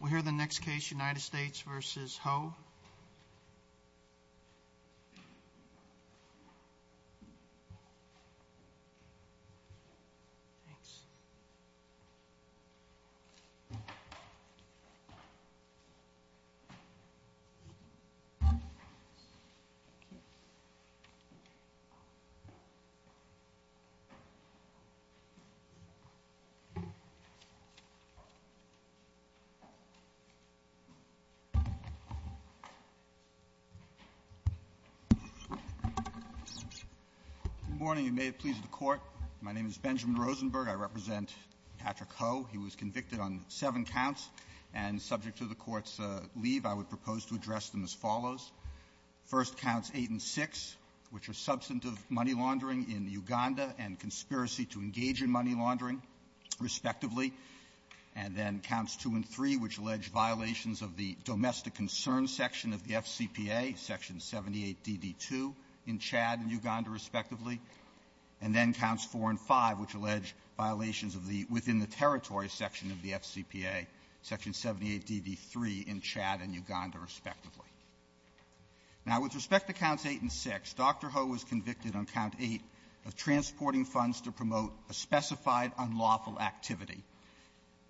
We'll hear the next case, United States v. Ho. Rosenberg, I represent Patrick Ho. He was convicted on seven counts. And subject to the Court's leave, I would propose to address them as follows. First, counts 8 and 6, which are substantive money laundering in Uganda and conspiracy to engage in money laundering, respectively. And then counts 2 and 3, which allege violations of the domestic concern section of the FCPA, Section 78DD2, in Chad and Uganda, respectively. And then counts 4 and 5, which allege violations of the within-the-territory section of the FCPA, Section 78DD3 in Chad and Uganda, respectively. Now, with respect to counts 8 and 6, Dr. Ho was convicted on count 8 of transporting funds to promote a specified unlawful activity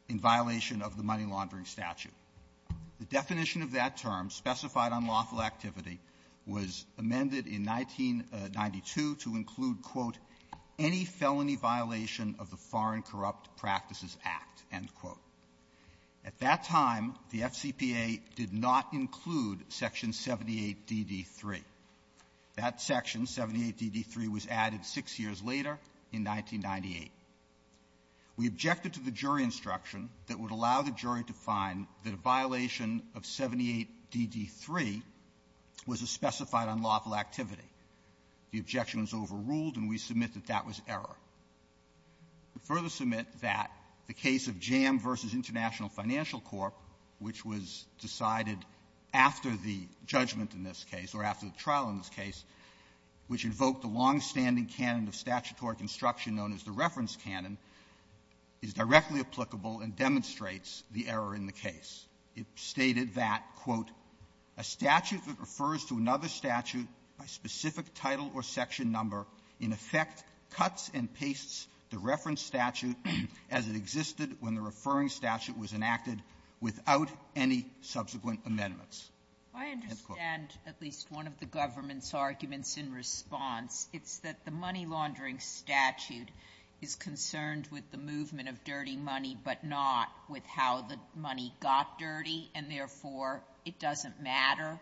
in violation of the money laundering statute. The definition of that term, specified unlawful activity, was amended in 1992 to include, quote, any felony violation of the Foreign Corrupt Practices Act, end quote. At that time, the FCPA did not include Section 78DD3. That section, 78DD3, was added six years later, in 1998. We objected to the jury instruction that would allow the jury to find that a violation of 78DD3 was a specified unlawful activity. The objection was overruled, and we submit that that was error. We further submit that the case of JAMM v. International Financial Corp., which was decided after the judgment in this case, or after the trial in this case, which invoked a longstanding canon of statutory construction known as the reference canon, is directly applicable and demonstrates the error in the case. It stated that, quote, a statute that refers to another statute by specific title or section number in effect cuts and pastes the reference statute as it existed when the referring statute was enacted without any subsequent amendments. End quote. Sotomayor, I understand at least one of the government's arguments in response. It's that the money-laundering statute is concerned with the movement of dirty money, but not with how the money got dirty, and, therefore, it doesn't matter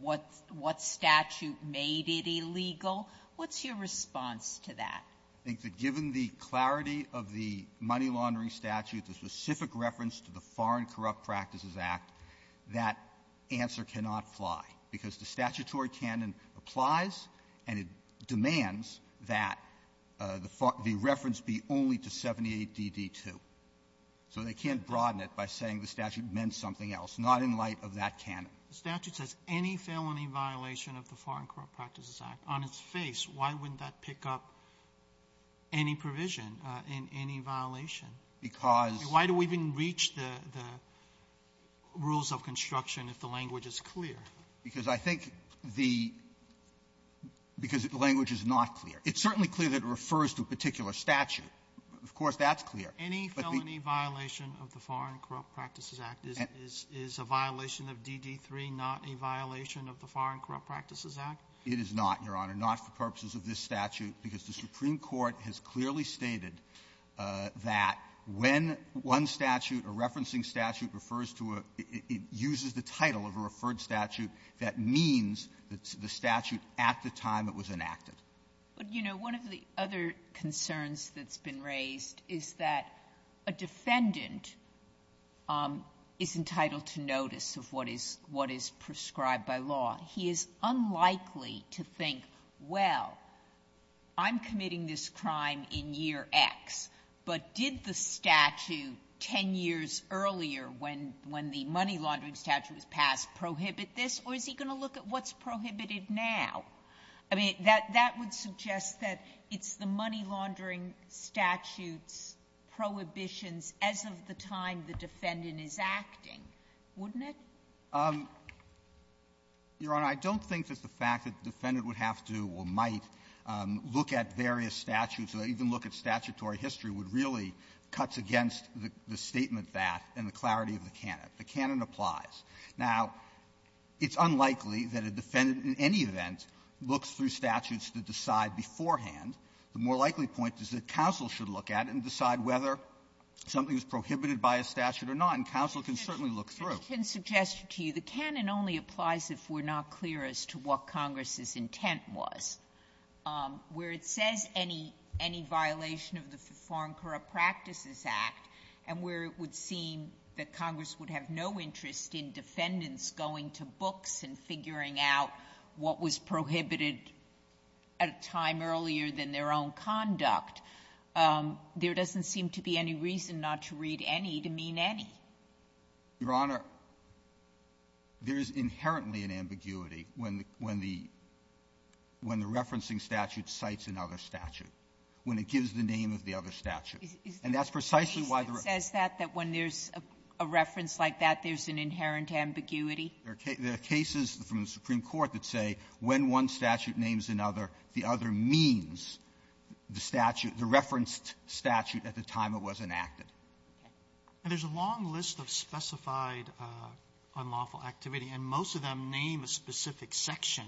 what statute made it illegal. What's your response to that? I think that given the clarity of the money-laundering statute, the specific reference to the Foreign Corrupt Practices Act, that answer cannot fly. Because the statutory canon applies, and it demands that the reference be only to 78 D.D. 2. So they can't broaden it by saying the statute meant something else, not in light of that canon. The statute says any felony violation of the Foreign Corrupt Practices Act. On its face, why wouldn't that pick up any provision in any violation? Because the ---- Why do we even reach the rules of construction if the language is clear? Because I think the ---- because the language is not clear. It's certainly clear that it refers to a particular statute. Of course, that's clear. Any felony violation of the Foreign Corrupt Practices Act is a violation of D.D. 3, not a violation of the Foreign Corrupt Practices Act? It is not, Your Honor. It is not, Your Honor, not for purposes of this statute, because the Supreme Court has clearly stated that when one statute, a referencing statute, refers to a ---- it uses the title of a referred statute, that means the statute at the time it was enacted. But, you know, one of the other concerns that's been raised is that a defendant is entitled to notice of what is ---- what is prescribed by law. He is unlikely to think, well, I'm committing this crime in year X, but did the statute 10 years earlier when the money-laundering statute was passed prohibit this, or is he going to look at what's prohibited now? I mean, that would suggest that it's the money-laundering statute's prohibitions as of the time the defendant is acting, wouldn't it? Verrilli, Your Honor, I don't think that the fact that the defendant would have to or might look at various statutes or even look at statutory history would really cut against the statement that and the clarity of the canon. The canon applies. Now, it's unlikely that a defendant in any event looks through statutes to decide beforehand. The more likely point is that counsel should look at it and decide whether something is prohibited by a statute or not. And counsel can certainly look through. Sotomayor, I can suggest to you the canon only applies if we're not clear as to what Congress's intent was. Where it says any violation of the Foreign Corrupt Practices Act, and where it would seem that Congress would have no interest in defendants going to books and figuring out what was prohibited at a time earlier than their own conduct, there doesn't seem to be any reason not to read any to mean any. Verrilli, Your Honor, there is inherently an ambiguity when the --when the referencing statute cites another statute, when it gives the name of the other statute. And that's precisely why the Reference says that, that when there's a reference like that, there's an inherent ambiguity. Verrilli, There are cases from the Supreme Court that say when one statute names another, the other means the statute, the referenced statute at the time it was enacted. Okay. And there's a long list of specified unlawful activity, and most of them name a specific section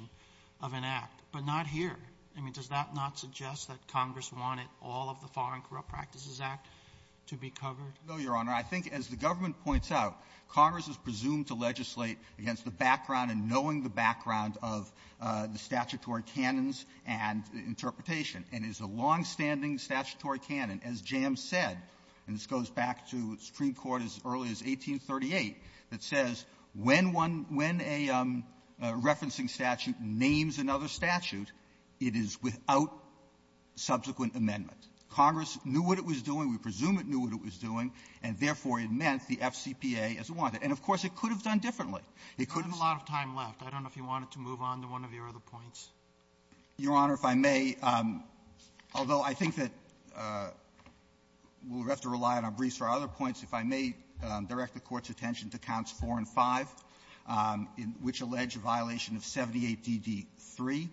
of an act, but not here. I mean, does that not suggest that Congress wanted all of the Foreign Corrupt Practices Act to be covered? No, Your Honor. I think, as the government points out, Congress is presumed to legislate against the background and knowing the background of the statutory canons and interpretation, and it's a longstanding statutory canon, as Jams said, and this goes back to Supreme Court as early as 1838, that says when one --"when a referencing statute names another statute, it is without subsequent amendment." Congress knew what it was doing. We presume it knew what it was doing, and therefore, it meant the FCPA as it wanted. And, of course, it could have done differently. It could have been a lot of time left. I don't know if you wanted to move on to one of your other points. Your Honor, if I may, although I think that we'll have to rely on our briefs for other points, if I may direct the Court's attention to Counts 4 and 5, which allege a violation of 78DD3.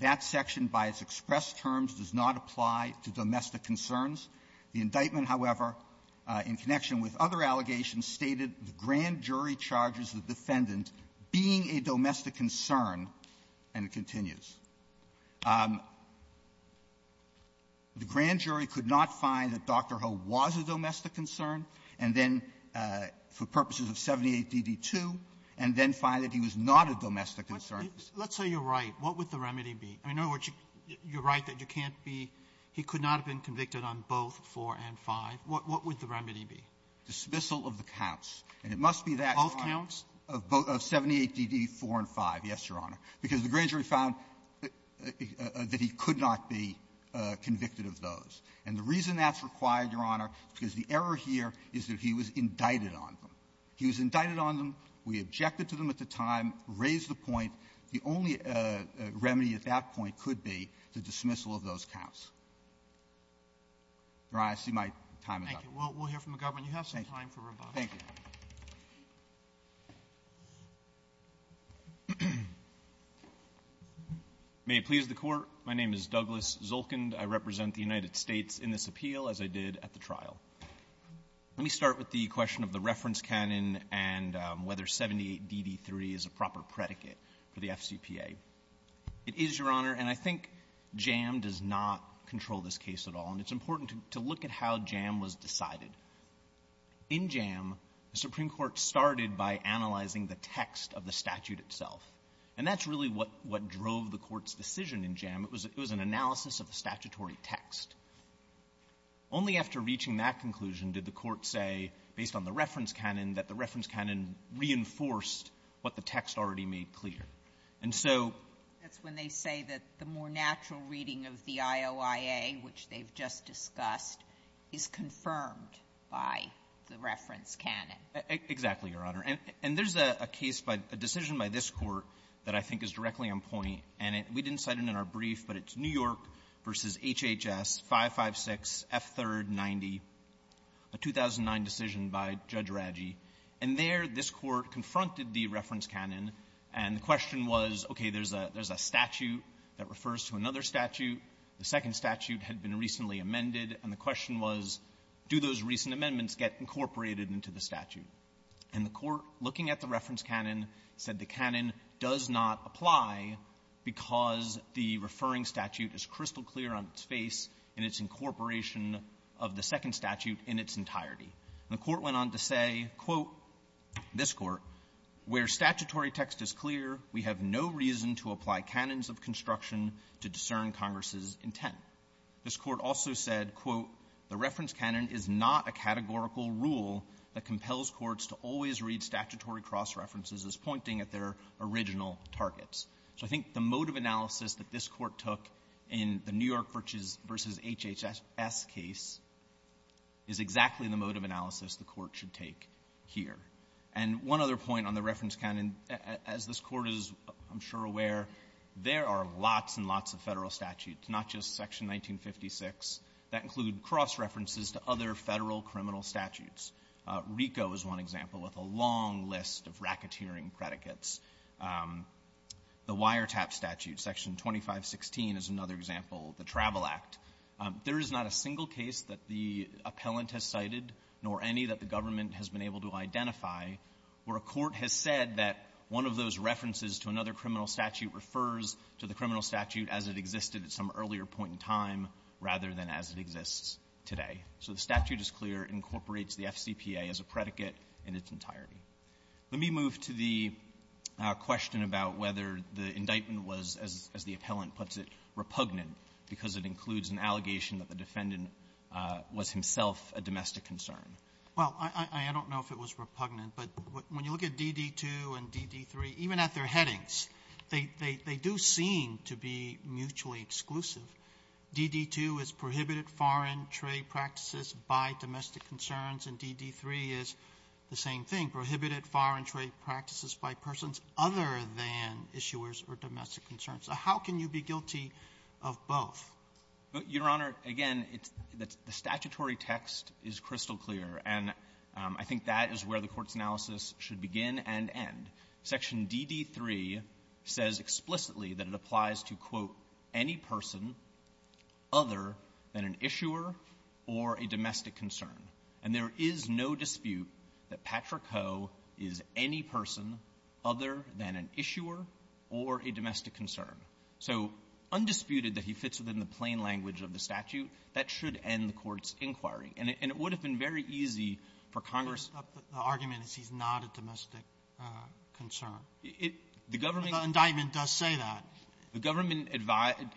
That section, by its expressed terms, does not apply to domestic concerns. The indictment, however, in connection with other allegations, stated the grand jury charges the defendant being a domestic concern, and it continues. The grand jury could not find that Dr. Ho was a domestic concern, and then for purposes of 78DD2, and then find that he was not a domestic concern. Robertson, let's say you're right. What would the remedy be? I mean, in other words, you're right that you can't be he could not have been convicted on both 4 and 5. What would the remedy be? Dismissal of the counts. And it must be that one. Both counts? Of both of 78DD4 and 5, yes, Your Honor, because the grand jury found that he could not be convicted of those. And the reason that's required, Your Honor, is because the error here is that he was indicted on them. He was indicted on them. We objected to them at the time, raised the point. The only remedy at that point could be the dismissal of those counts. Your Honor, I see my time is up. Thank you. We'll hear from the government. You have some time for rebuttal. Thank you. May it please the Court. My name is Douglas Zolkind. I represent the United States in this appeal, as I did at the trial. Let me start with the question of the reference canon and whether 78DD3 is a proper predicate for the FCPA. It is, Your Honor, and I think JAM does not control this case at all. And it's important to look at how JAM was decided. In JAM, the Supreme Court started by analyzing the text of the statute itself. And that's really what drove the Court's decision in JAM. It was an analysis of the statutory text. Only after reaching that conclusion did the Court say, based on the reference canon, that the reference canon reinforced what the text already made clear. And so that's when they say that the more natural reading of the IOIA, which they've just discussed, is confirmed by the reference canon. Exactly, Your Honor. And there's a case by the decision by this Court that I think is directly on point. And we didn't cite it in our brief, but it's New York v. HHS 556F390, a 2009 decision by Judge Raggi. And there, this Court confronted the reference canon, and the question was, okay, there's a statute that refers to another statute. The second statute had been recently amended, and the question was, do those recent amendments get incorporated into the statute? And the Court, looking at the reference canon, said the canon does not apply because the referring statute is crystal-clear on its face and its incorporation of the second statute in its entirety. And the Court went on to say, quote, this Court, where statutory text is clear, we have no reason to reject the reference canon's intent. This Court also said, quote, the reference canon is not a categorical rule that compels courts to always read statutory cross-references as pointing at their original targets. So I think the mode of analysis that this Court took in the New York v. HHS case is exactly the mode of analysis the Court should take here. And one other point on the reference canon, as this Court is, I'm sure, aware, there are lots and lots of Federal statutes that are not in the New York v. HHS, not just Section 1956, that include cross-references to other Federal criminal statutes. RICO is one example, with a long list of racketeering predicates. The wiretap statute, Section 2516, is another example, the Travel Act. There is not a single case that the appellant has cited, nor any that the government has been able to identify, where a court has said that one of those references to another criminal statute refers to the criminal statute as it existed at some earlier point in time rather than as it exists today. So the statute is clear, incorporates the FCPA as a predicate in its entirety. Let me move to the question about whether the indictment was, as the appellant puts it, repugnant because it includes an allegation that the defendant was himself a domestic concern. Well, I don't know if it was repugnant, but when you look at DD2 and DD3, even at their headings, they do seem to be mutually exclusive. DD2 is prohibited foreign trade practices by domestic concerns, and DD3 is the same thing, prohibited foreign trade practices by persons other than issuers or domestic concerns. So how can you be guilty of both? Your Honor, again, it's the statutory text is crystal clear, and I think that is where the Court's analysis should begin and end. Section DD3 says explicitly that it applies to, quote, any person other than an issuer or a domestic concern. And there is no dispute that Patrick Ho is any person other than an issuer or a domestic concern. So undisputed that he fits within the plain language of the statute. That should end the Court's inquiry. And it would have been very easy for Congress to stop the argument as he's not a domestic concern. The government does say that. The government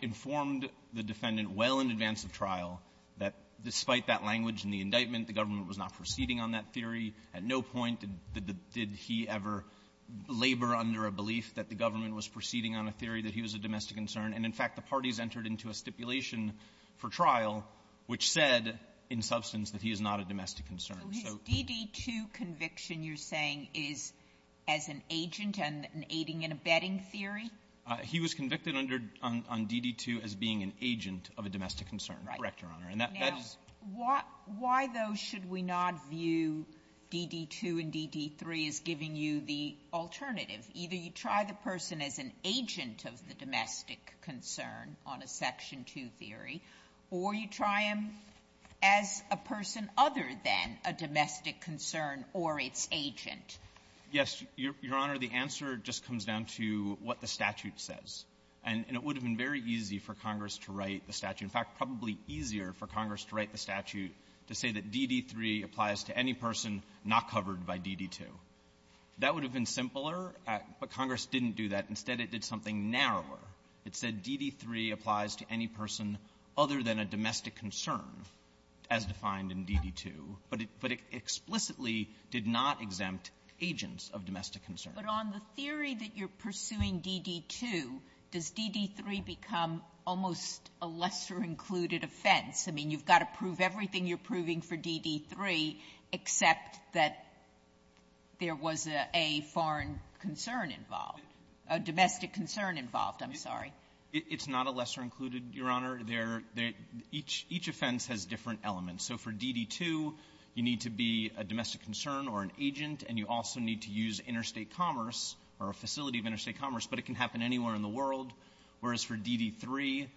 informed the defendant well in advance of trial that despite that language in the indictment, the government was not proceeding on that theory. At no point did he ever labor under a belief that the government was proceeding on a theory that he was a domestic concern. And, in fact, the parties entered into a stipulation for trial which said, in substance, that he is not a domestic concern. So his DD2 conviction, you're saying, is as an agent and an aiding and abetting theory? He was convicted under — on DD2 as being an agent of a domestic concern. Correct, Your Honor. And that's why those should we not view DD2 and DD3 as giving you the alternative. Either you try the person as an agent of the domestic concern on a Section 2 theory, or you try him as a person other than a domestic concern or its agent. Yes, Your Honor. The answer just comes down to what the statute says. And it would have been very easy for Congress to write the statute, in fact, probably easier for Congress to write the statute to say that DD3 applies to any person not covered by DD2. That would have been simpler, but Congress didn't do that. Instead, it did something narrower. It said DD3 applies to any person other than a domestic concern, as defined in DD2. But it explicitly did not exempt agents of domestic concern. But on the theory that you're pursuing DD2, does DD3 become almost a lesser-included offense? I mean, you've got to prove everything you're proving for DD3, except that there was a foreign concern involved, a domestic concern involved. I'm sorry. It's not a lesser-included, Your Honor. They're — each offense has different elements. So for DD2, you need to be a domestic concern or an agent, and you also need to use interstate commerce or a facility of interstate commerce. But it can happen anywhere in the world. Whereas for DD3,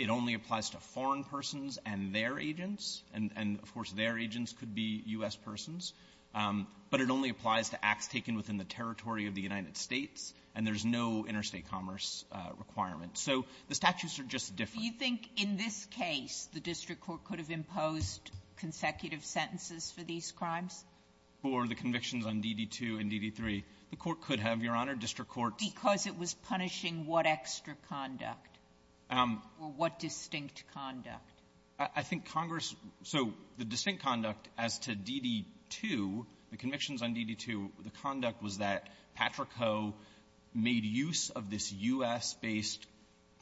it only applies to foreign persons and their agents, and of course, their agents could be U.S. persons. But it only applies to acts taken within the territory of the United States, and there's no interstate commerce requirement. So the statutes are just different. Do you think in this case the district court could have imposed consecutive sentences for these crimes? Because it was punishing what extra conduct, or what distinct conduct? I think Congress — so the distinct conduct as to DD2, the convictions on DD2, the conduct was that Patrick Ho made use of this U.S.-based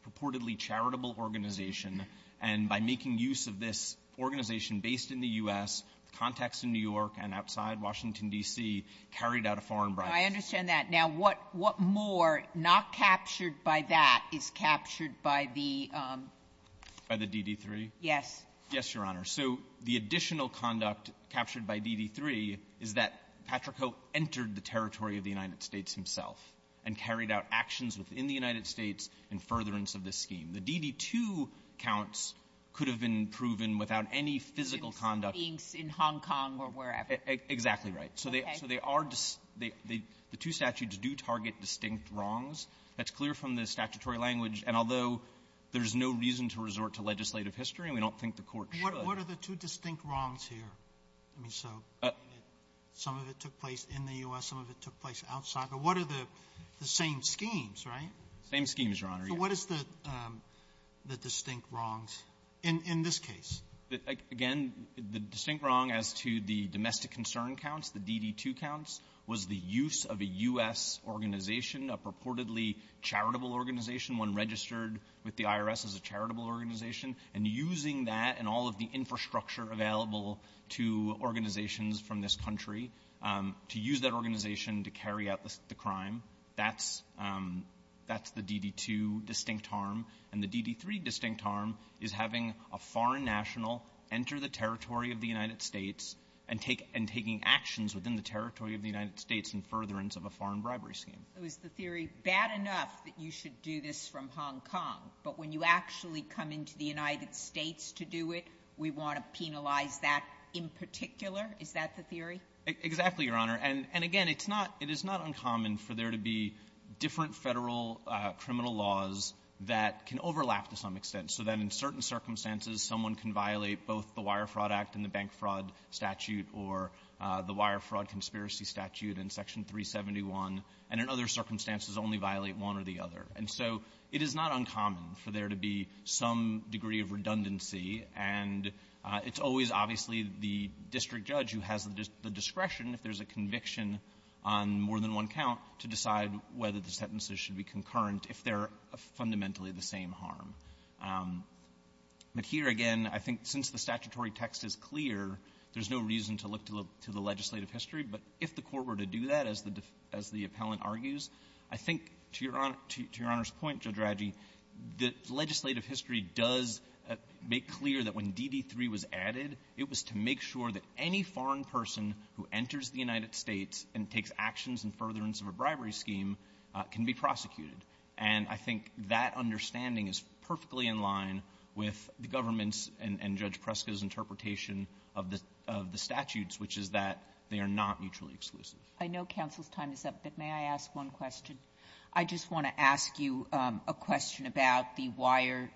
purportedly charitable organization, and by making use of this organization based in the U.S., the contacts in New York and outside Washington, D.C., carried out a foreign bribe. I understand that. Now, what more, not captured by that, is captured by the — By the DD3? Yes. Yes, Your Honor. So the additional conduct captured by DD3 is that Patrick Ho entered the territory of the United States himself and carried out actions within the United States in furtherance of this scheme. The DD2 counts could have been proven without any physical conduct. In Hong Kong or wherever. Exactly right. Okay. So they are — the two statutes do target distinct wrongs. That's clear from the statutory language. And although there's no reason to resort to legislative history, and we don't think the Court should. What are the two distinct wrongs here? I mean, so some of it took place in the U.S., some of it took place outside. But what are the same schemes, right? Same schemes, Your Honor, yes. So what is the distinct wrongs in this case? Again, the distinct wrong as to the domestic concern counts, the DD2 counts, was the use of a U.S. organization, a purportedly charitable organization, one registered with the IRS as a charitable organization, and using that and all of the infrastructure available to organizations from this country to use that organization to carry out the crime, that's — that's the DD2 distinct harm. And the DD3 distinct harm is having a foreign national enter the territory of the United States and take — and taking actions within the territory of the United States in furtherance of a foreign bribery scheme. So is the theory bad enough that you should do this from Hong Kong, but when you actually come into the United States to do it, we want to penalize that in particular? Is that the theory? Exactly, Your Honor. And — and again, it's not — it is not uncommon for there to be different federal criminal laws that can overlap to some extent, so that in certain circumstances, someone can violate both the Wire Fraud Act and the Bank Fraud Statute or the Wire Fraud Conspiracy Statute in Section 371, and in other circumstances, only violate one or the other. And so it is not uncommon for there to be some degree of redundancy, and it's always, obviously, the district judge who has the discretion, if there's a conviction on more than one count, to decide whether the sentences should be concurrent if they're fundamentally the same harm. But here, again, I think since the statutory text is clear, there's no reason to look to the legislative history, but if the Court were to do that, as the — as the appellant argues, I think, to Your Honor — to Your Honor's point, Judge Radji, the legislative history does make clear that when DD3 was added, it was to make sure that any foreign person who enters the United States and takes actions in furtherance of a bribery scheme can be prosecuted. And I think that understanding is perfectly in line with the government's and Judge Preska's interpretation of the — of the statutes, which is that they are not mutually exclusive. I know counsel's time is up, but may I ask one question? I just want to ask you a question about the wire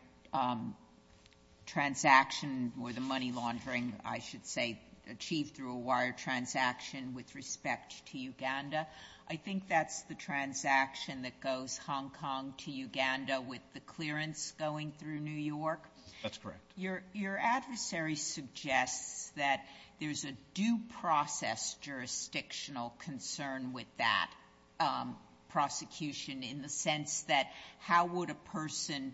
transaction or the money laundering, I should say, achieved through a wire transaction with respect to Uganda. I think that's the transaction that goes Hong Kong to Uganda with the clearance going through New York. That's correct. Your — your adversary suggests that there's a due process jurisdictional concern with that prosecution in the sense that how would a person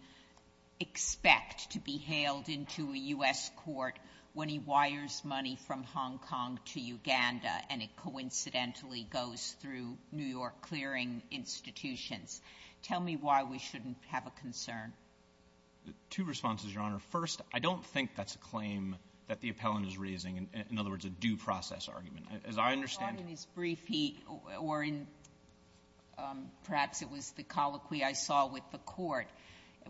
expect to be hailed into a U.S. court when he wires money from Hong Kong to Uganda and it coincidentally goes through New York clearing institutions? Tell me why we shouldn't have a concern. Two responses, Your Honor. First, I don't think that's a claim that the appellant is raising, in other words, a due process argument. As I understand it — I thought in his brief he — or in — perhaps it was the colloquy I saw with the court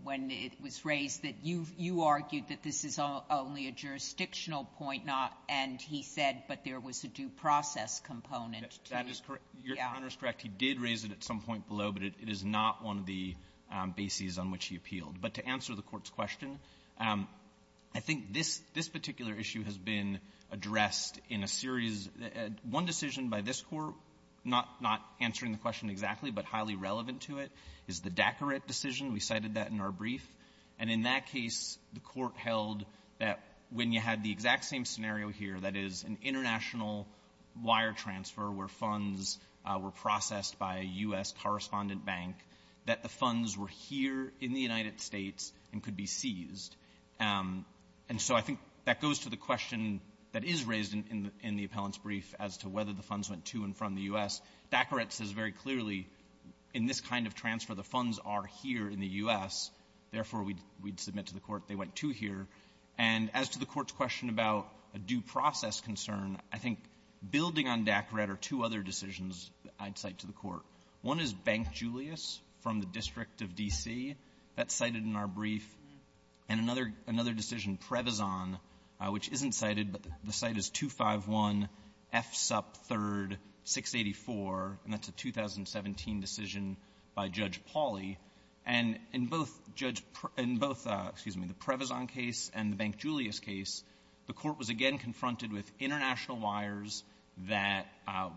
when it was raised that you — you argued that this is only a jurisdictional point, not — and he said, but there was a due process component to — That is correct. Your Honor is correct. He did raise it at some point below, but it is not one of the bases on which he appealed. But to answer the Court's question, I think this — this particular issue has been addressed in a series — one decision by this Court, not — not answering the question exactly, but highly relevant to it, is the Dacoret decision. We cited that in our brief. And in that case, the Court held that when you had the exact same scenario here, that is, an international wire transfer where funds were processed by a U.S. correspondent bank, that the funds were here in the United States and could be seized. And so I think that goes to the question that is raised in — in the appellant's brief as to whether the funds went to and from the U.S. Dacoret says very clearly, in this kind of transfer, the funds are here in the U.S., therefore, we'd — we'd submit to the Court they went to here. And as to the Court's question about a due process concern, I think building on Dacoret are two other decisions I'd cite to the Court. One is Bank Julius from the District of D.C. That's cited in our brief. And another — another decision, Previzon, which isn't cited, but the site is 251 F. Supp. 3, 684, and that's a 2017 decision by Judge Pauly. And in both Judge — in both, excuse me, the Previzon case and the Bank Julius case, the Court was again confronted with international wires that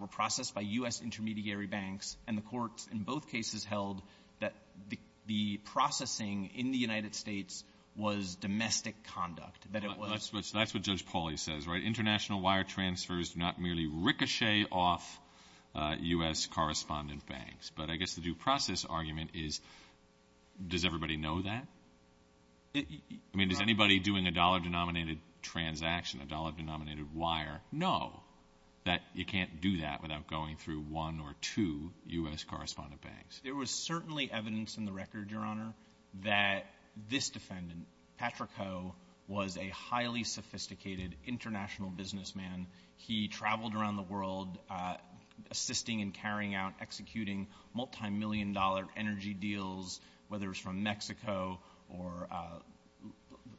were processed by U.S. intermediary banks, and the Court in both cases held that the — the processing in the United States was domestic conduct, that it was — it was merely ricochet off U.S. correspondent banks. But I guess the due process argument is, does everybody know that? I mean, does anybody doing a dollar-denominated transaction, a dollar-denominated wire know that you can't do that without going through one or two U.S. correspondent banks? There was certainly evidence in the record, Your Honor, that this defendant, Patrick Ho, was a highly sophisticated international businessman. He traveled around the world assisting and carrying out — executing multimillion-dollar energy deals, whether it was from Mexico or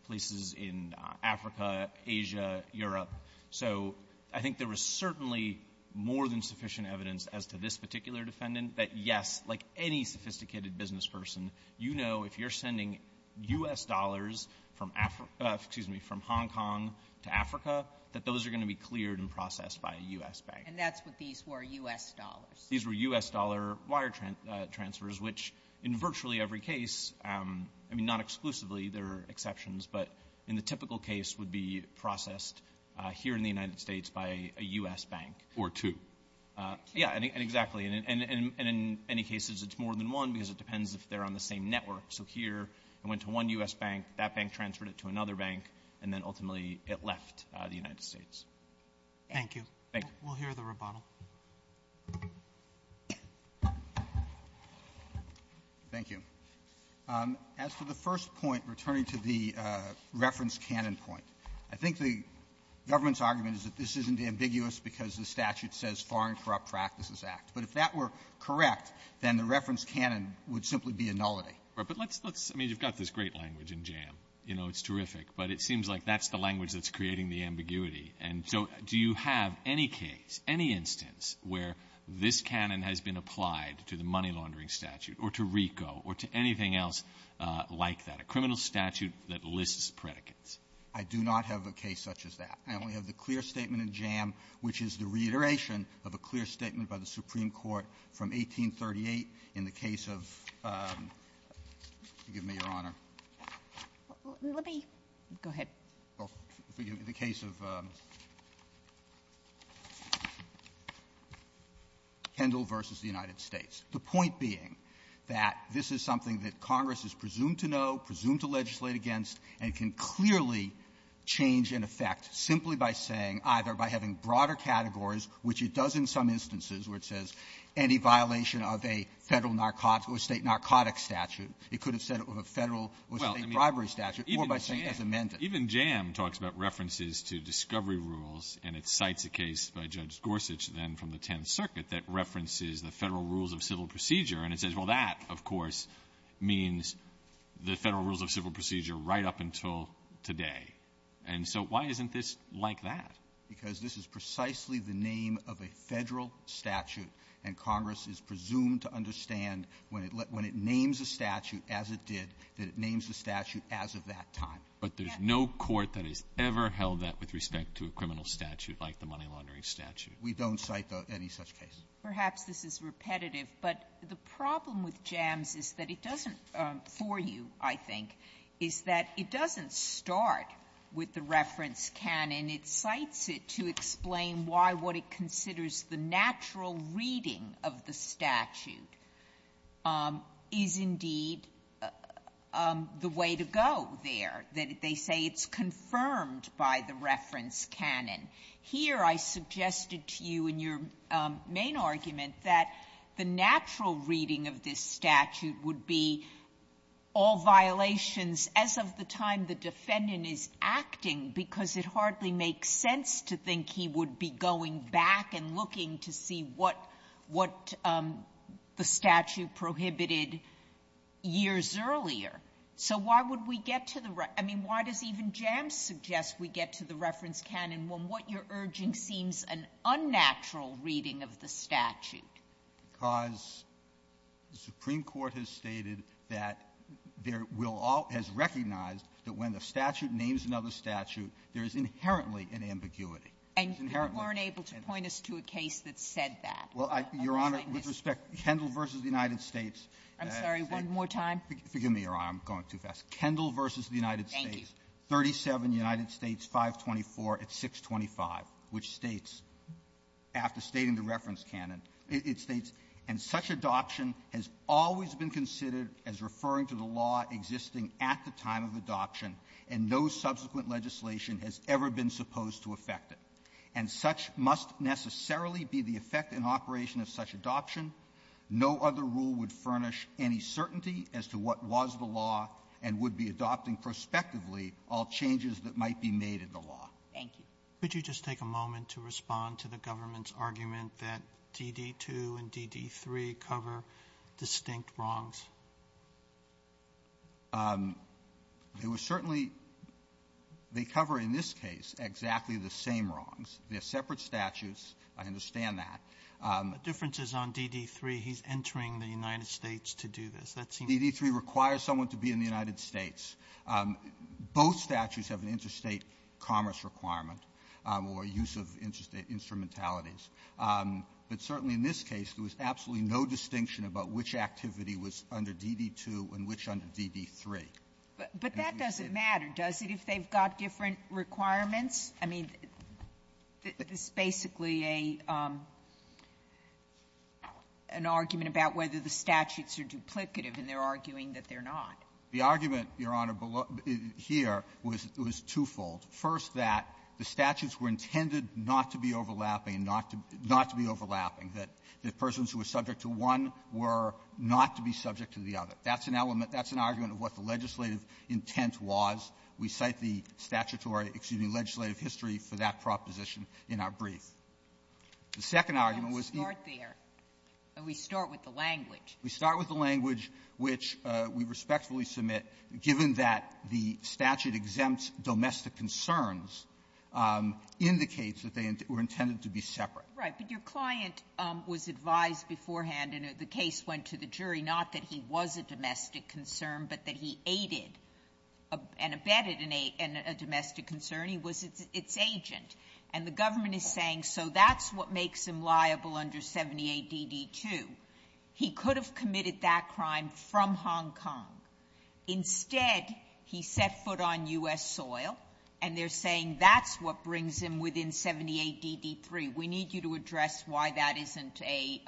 places in Africa, Asia, Europe. So I think there was certainly more than sufficient evidence as to this particular defendant that, yes, like any sophisticated businessperson, you know if you're sending U.S. dollars from — excuse me, from Hong Kong to Africa, that those are going to be cleared and processed by a U.S. bank. And that's what these were, U.S. dollars? These were U.S. dollar wire transfers, which in virtually every case — I mean, not exclusively, there are exceptions, but in the typical case would be processed here in the United States by a U.S. bank. Or two. Yeah, exactly. And in any cases, it's more than one because it depends if they're on the same network. So here, I went to one U.S. bank, that bank transferred it to another bank, and then ultimately it left the United States. Thank you. Thank you. We'll hear the rebuttal. Thank you. As for the first point, returning to the reference canon point, I think the government's argument is that this isn't ambiguous because the statute says Foreign Corrupt Practices Act. But if that were correct, then the reference canon would simply be a nullity. Right. But let's — let's — I mean, you've got this great language in JAM. You know, it's terrific. But it seems like that's the language that's creating the ambiguity. And so do you have any case, any instance where this canon has been applied to the money-laundering statute or to RICO or to anything else like that, a criminal statute that lists predicates? I do not have a case such as that. I only have the clear statement in JAM, which is the reiteration of a clear statement by the Supreme Court from 1838 in the case of — forgive me, Your Honor. Let me — go ahead. Well, forgive me, the case of Kendall v. The United States. The point being that this is something that Congress is presumed to know, presumed to legislate against, and can clearly change in effect simply by saying either by having broader categories, which it does in some instances, where it says any violation of a federal narcotic — or state narcotic statute. It could have said it was a federal or state bribery statute or by saying as amended. Even JAM talks about references to discovery rules, and it cites a case by Judge Gorsuch then from the Tenth Circuit that references the federal rules of civil procedure. And it says, well, that, of course, means the federal rules of civil procedure right up until today. And so why isn't this like that? Because this is precisely the name of a federal statute, and Congress is presumed to understand when it — when it names a statute as it did, that it names the statute as of that time. But there's no court that has ever held that with respect to a criminal statute like the money laundering statute. We don't cite any such case. Perhaps this is repetitive, but the problem with JAMS is that it doesn't, for you, I think, is that it doesn't start with the reference canon. It cites it to explain why what it considers the natural reading of the statute is indeed the way to go there, that they say it's confirmed by the reference canon. Here, I suggested to you in your main argument that the natural reading of this statute would be all violations as of the time the defendant is acting, because it hardly makes sense to think he would be going back and looking to see what — what the statute prohibited years earlier. So why would we get to the — I mean, why does even JAMS suggest we get to the reference canon when what you're urging seems an unnatural reading of the statute? Because the Supreme Court has stated that there will all — has recognized that when the statute names another statute, there is inherently an ambiguity. It's inherently — And you weren't able to point us to a case that said that. Well, I — Your Honor, with respect, Kendall v. The United States — I'm sorry. One more time. Forgive me, Your Honor. I'm going too fast. Kendall v. The United States. Thank you. 37 United States 524 at 625, which states, after stating the reference canon, it states, and such adoption has always been considered as referring to the law existing at the time of adoption, and no subsequent legislation has ever been supposed to affect it. And such must necessarily be the effect in operation of such adoption. No other rule would furnish any certainty as to what was the law and would be adopting prospectively all changes that might be made in the law. Thank you. Could you just take a moment to respond to the government's argument that DD2 and DD3 cover distinct wrongs? It was certainly — they cover, in this case, exactly the same wrongs. They're separate statutes. I understand that. The difference is on DD3, he's entering the United States to do this. That seems — DD3 requires someone to be in the United States. Both statutes have an interstate commerce requirement or use of interstate instrumentalities. But certainly in this case, there was absolutely no distinction about which activity was under DD2 and which under DD3. But that doesn't matter, does it, if they've got different requirements? I mean, this is basically a — an argument about whether the statutes are duplicative, and they're arguing that they're not. The argument, Your Honor, below — here was twofold. First, that the statutes were intended not to be overlapping, not to — not to be overlapping, that persons who were subject to one were not to be subject to the other. That's an element — that's an argument of what the legislative intent was. We cite the statutory — excuse me, legislative history for that proposition in our brief. The second argument was — We don't start there. We start with the language. We start with the language which we respectfully submit, given that the statute exempts domestic concerns, indicates that they were intended to be separate. Right. But your client was advised beforehand, and the case went to the jury, not that he was a domestic concern, but that he aided and abetted a domestic concern. He was its agent. And the government is saying, so that's what makes him liable under 78DD2. He could have committed that crime from Hong Kong. Instead, he set foot on U.S. soil, and they're saying that's what brings him within 78DD3. We need you to address why that isn't a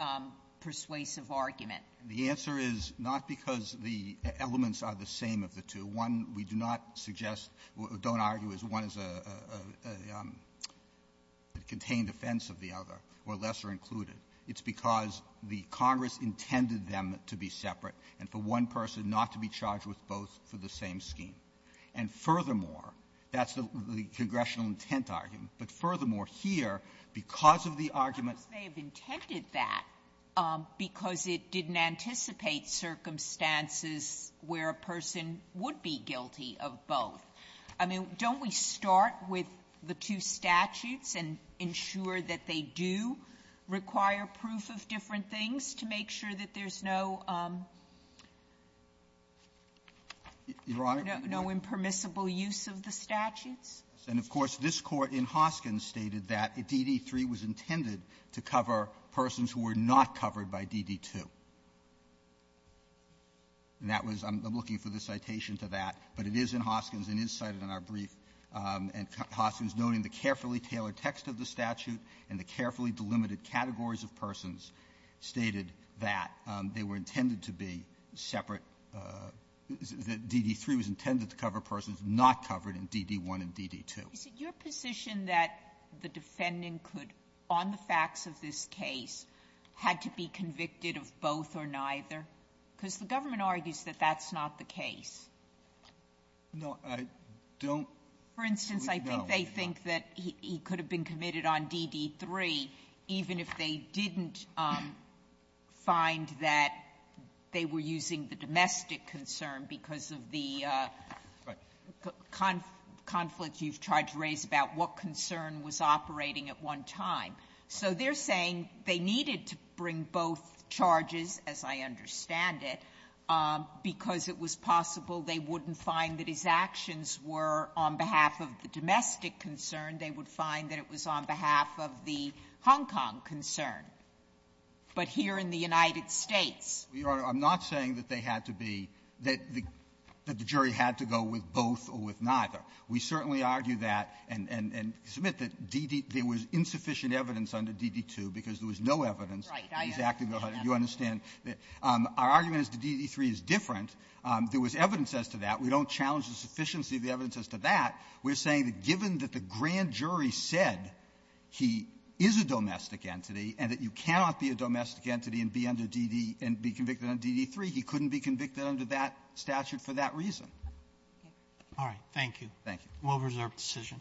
persuasive argument. The answer is not because the elements are the same of the two. One, we do not suggest — don't argue as one is a — a contained offense of the other or lesser included. It's because the Congress intended them to be separate and for one person not to be charged with both for the same scheme. And furthermore, that's the — the congressional intent argument. But furthermore, here, because of the argument — Sotomayor, they have intended that because it didn't anticipate circumstances where a person would be guilty of both. I mean, don't we start with the two statutes and ensure that they do require proof of different things to make sure that there's no — Verrilli,, Your Honor? No impermissible use of the statutes? And, of course, this Court in Hoskins stated that DD3 was intended to cover persons who were not covered by DD2. And that was — I'm looking for the citation to that, but it is in Hoskins and is cited in our brief. And Hoskins, noting the carefully tailored text of the statute and the carefully delimited categories of persons, stated that they were intended to be separate — that DD3 was intended to cover persons not covered in DD1 and DD2. Is it your position that the defendant could, on the facts of this case, had to be convicted of both or neither? Because the government argues that that's not the case. No. I don't know. For instance, I think they think that he could have been committed on DD3 even if they didn't find that they were using the domestic concern because of the conflict you've tried to raise about what concern was operating at one time. So they're saying they needed to bring both charges, as I understand it, because it was possible they wouldn't find that his actions were on behalf of the domestic concern. They would find that it was on behalf of the Hong Kong concern. But here in the United States — Your Honor, I'm not saying that they had to be — that the jury had to go with both or with neither. We certainly argue that and — and submit that DD — there was insufficient evidence under DD2 because there was no evidence. Right. Exactly. You understand that our argument is that DD3 is different. There was evidence as to that. We don't challenge the sufficiency of the evidence as to that. We're saying that given that the grand jury said he is a domestic entity and that you cannot be a domestic entity and be under DD — and be convicted on DD3, he couldn't be convicted under that statute for that reason. All right. Thank you. Thank you. We'll reserve the decision.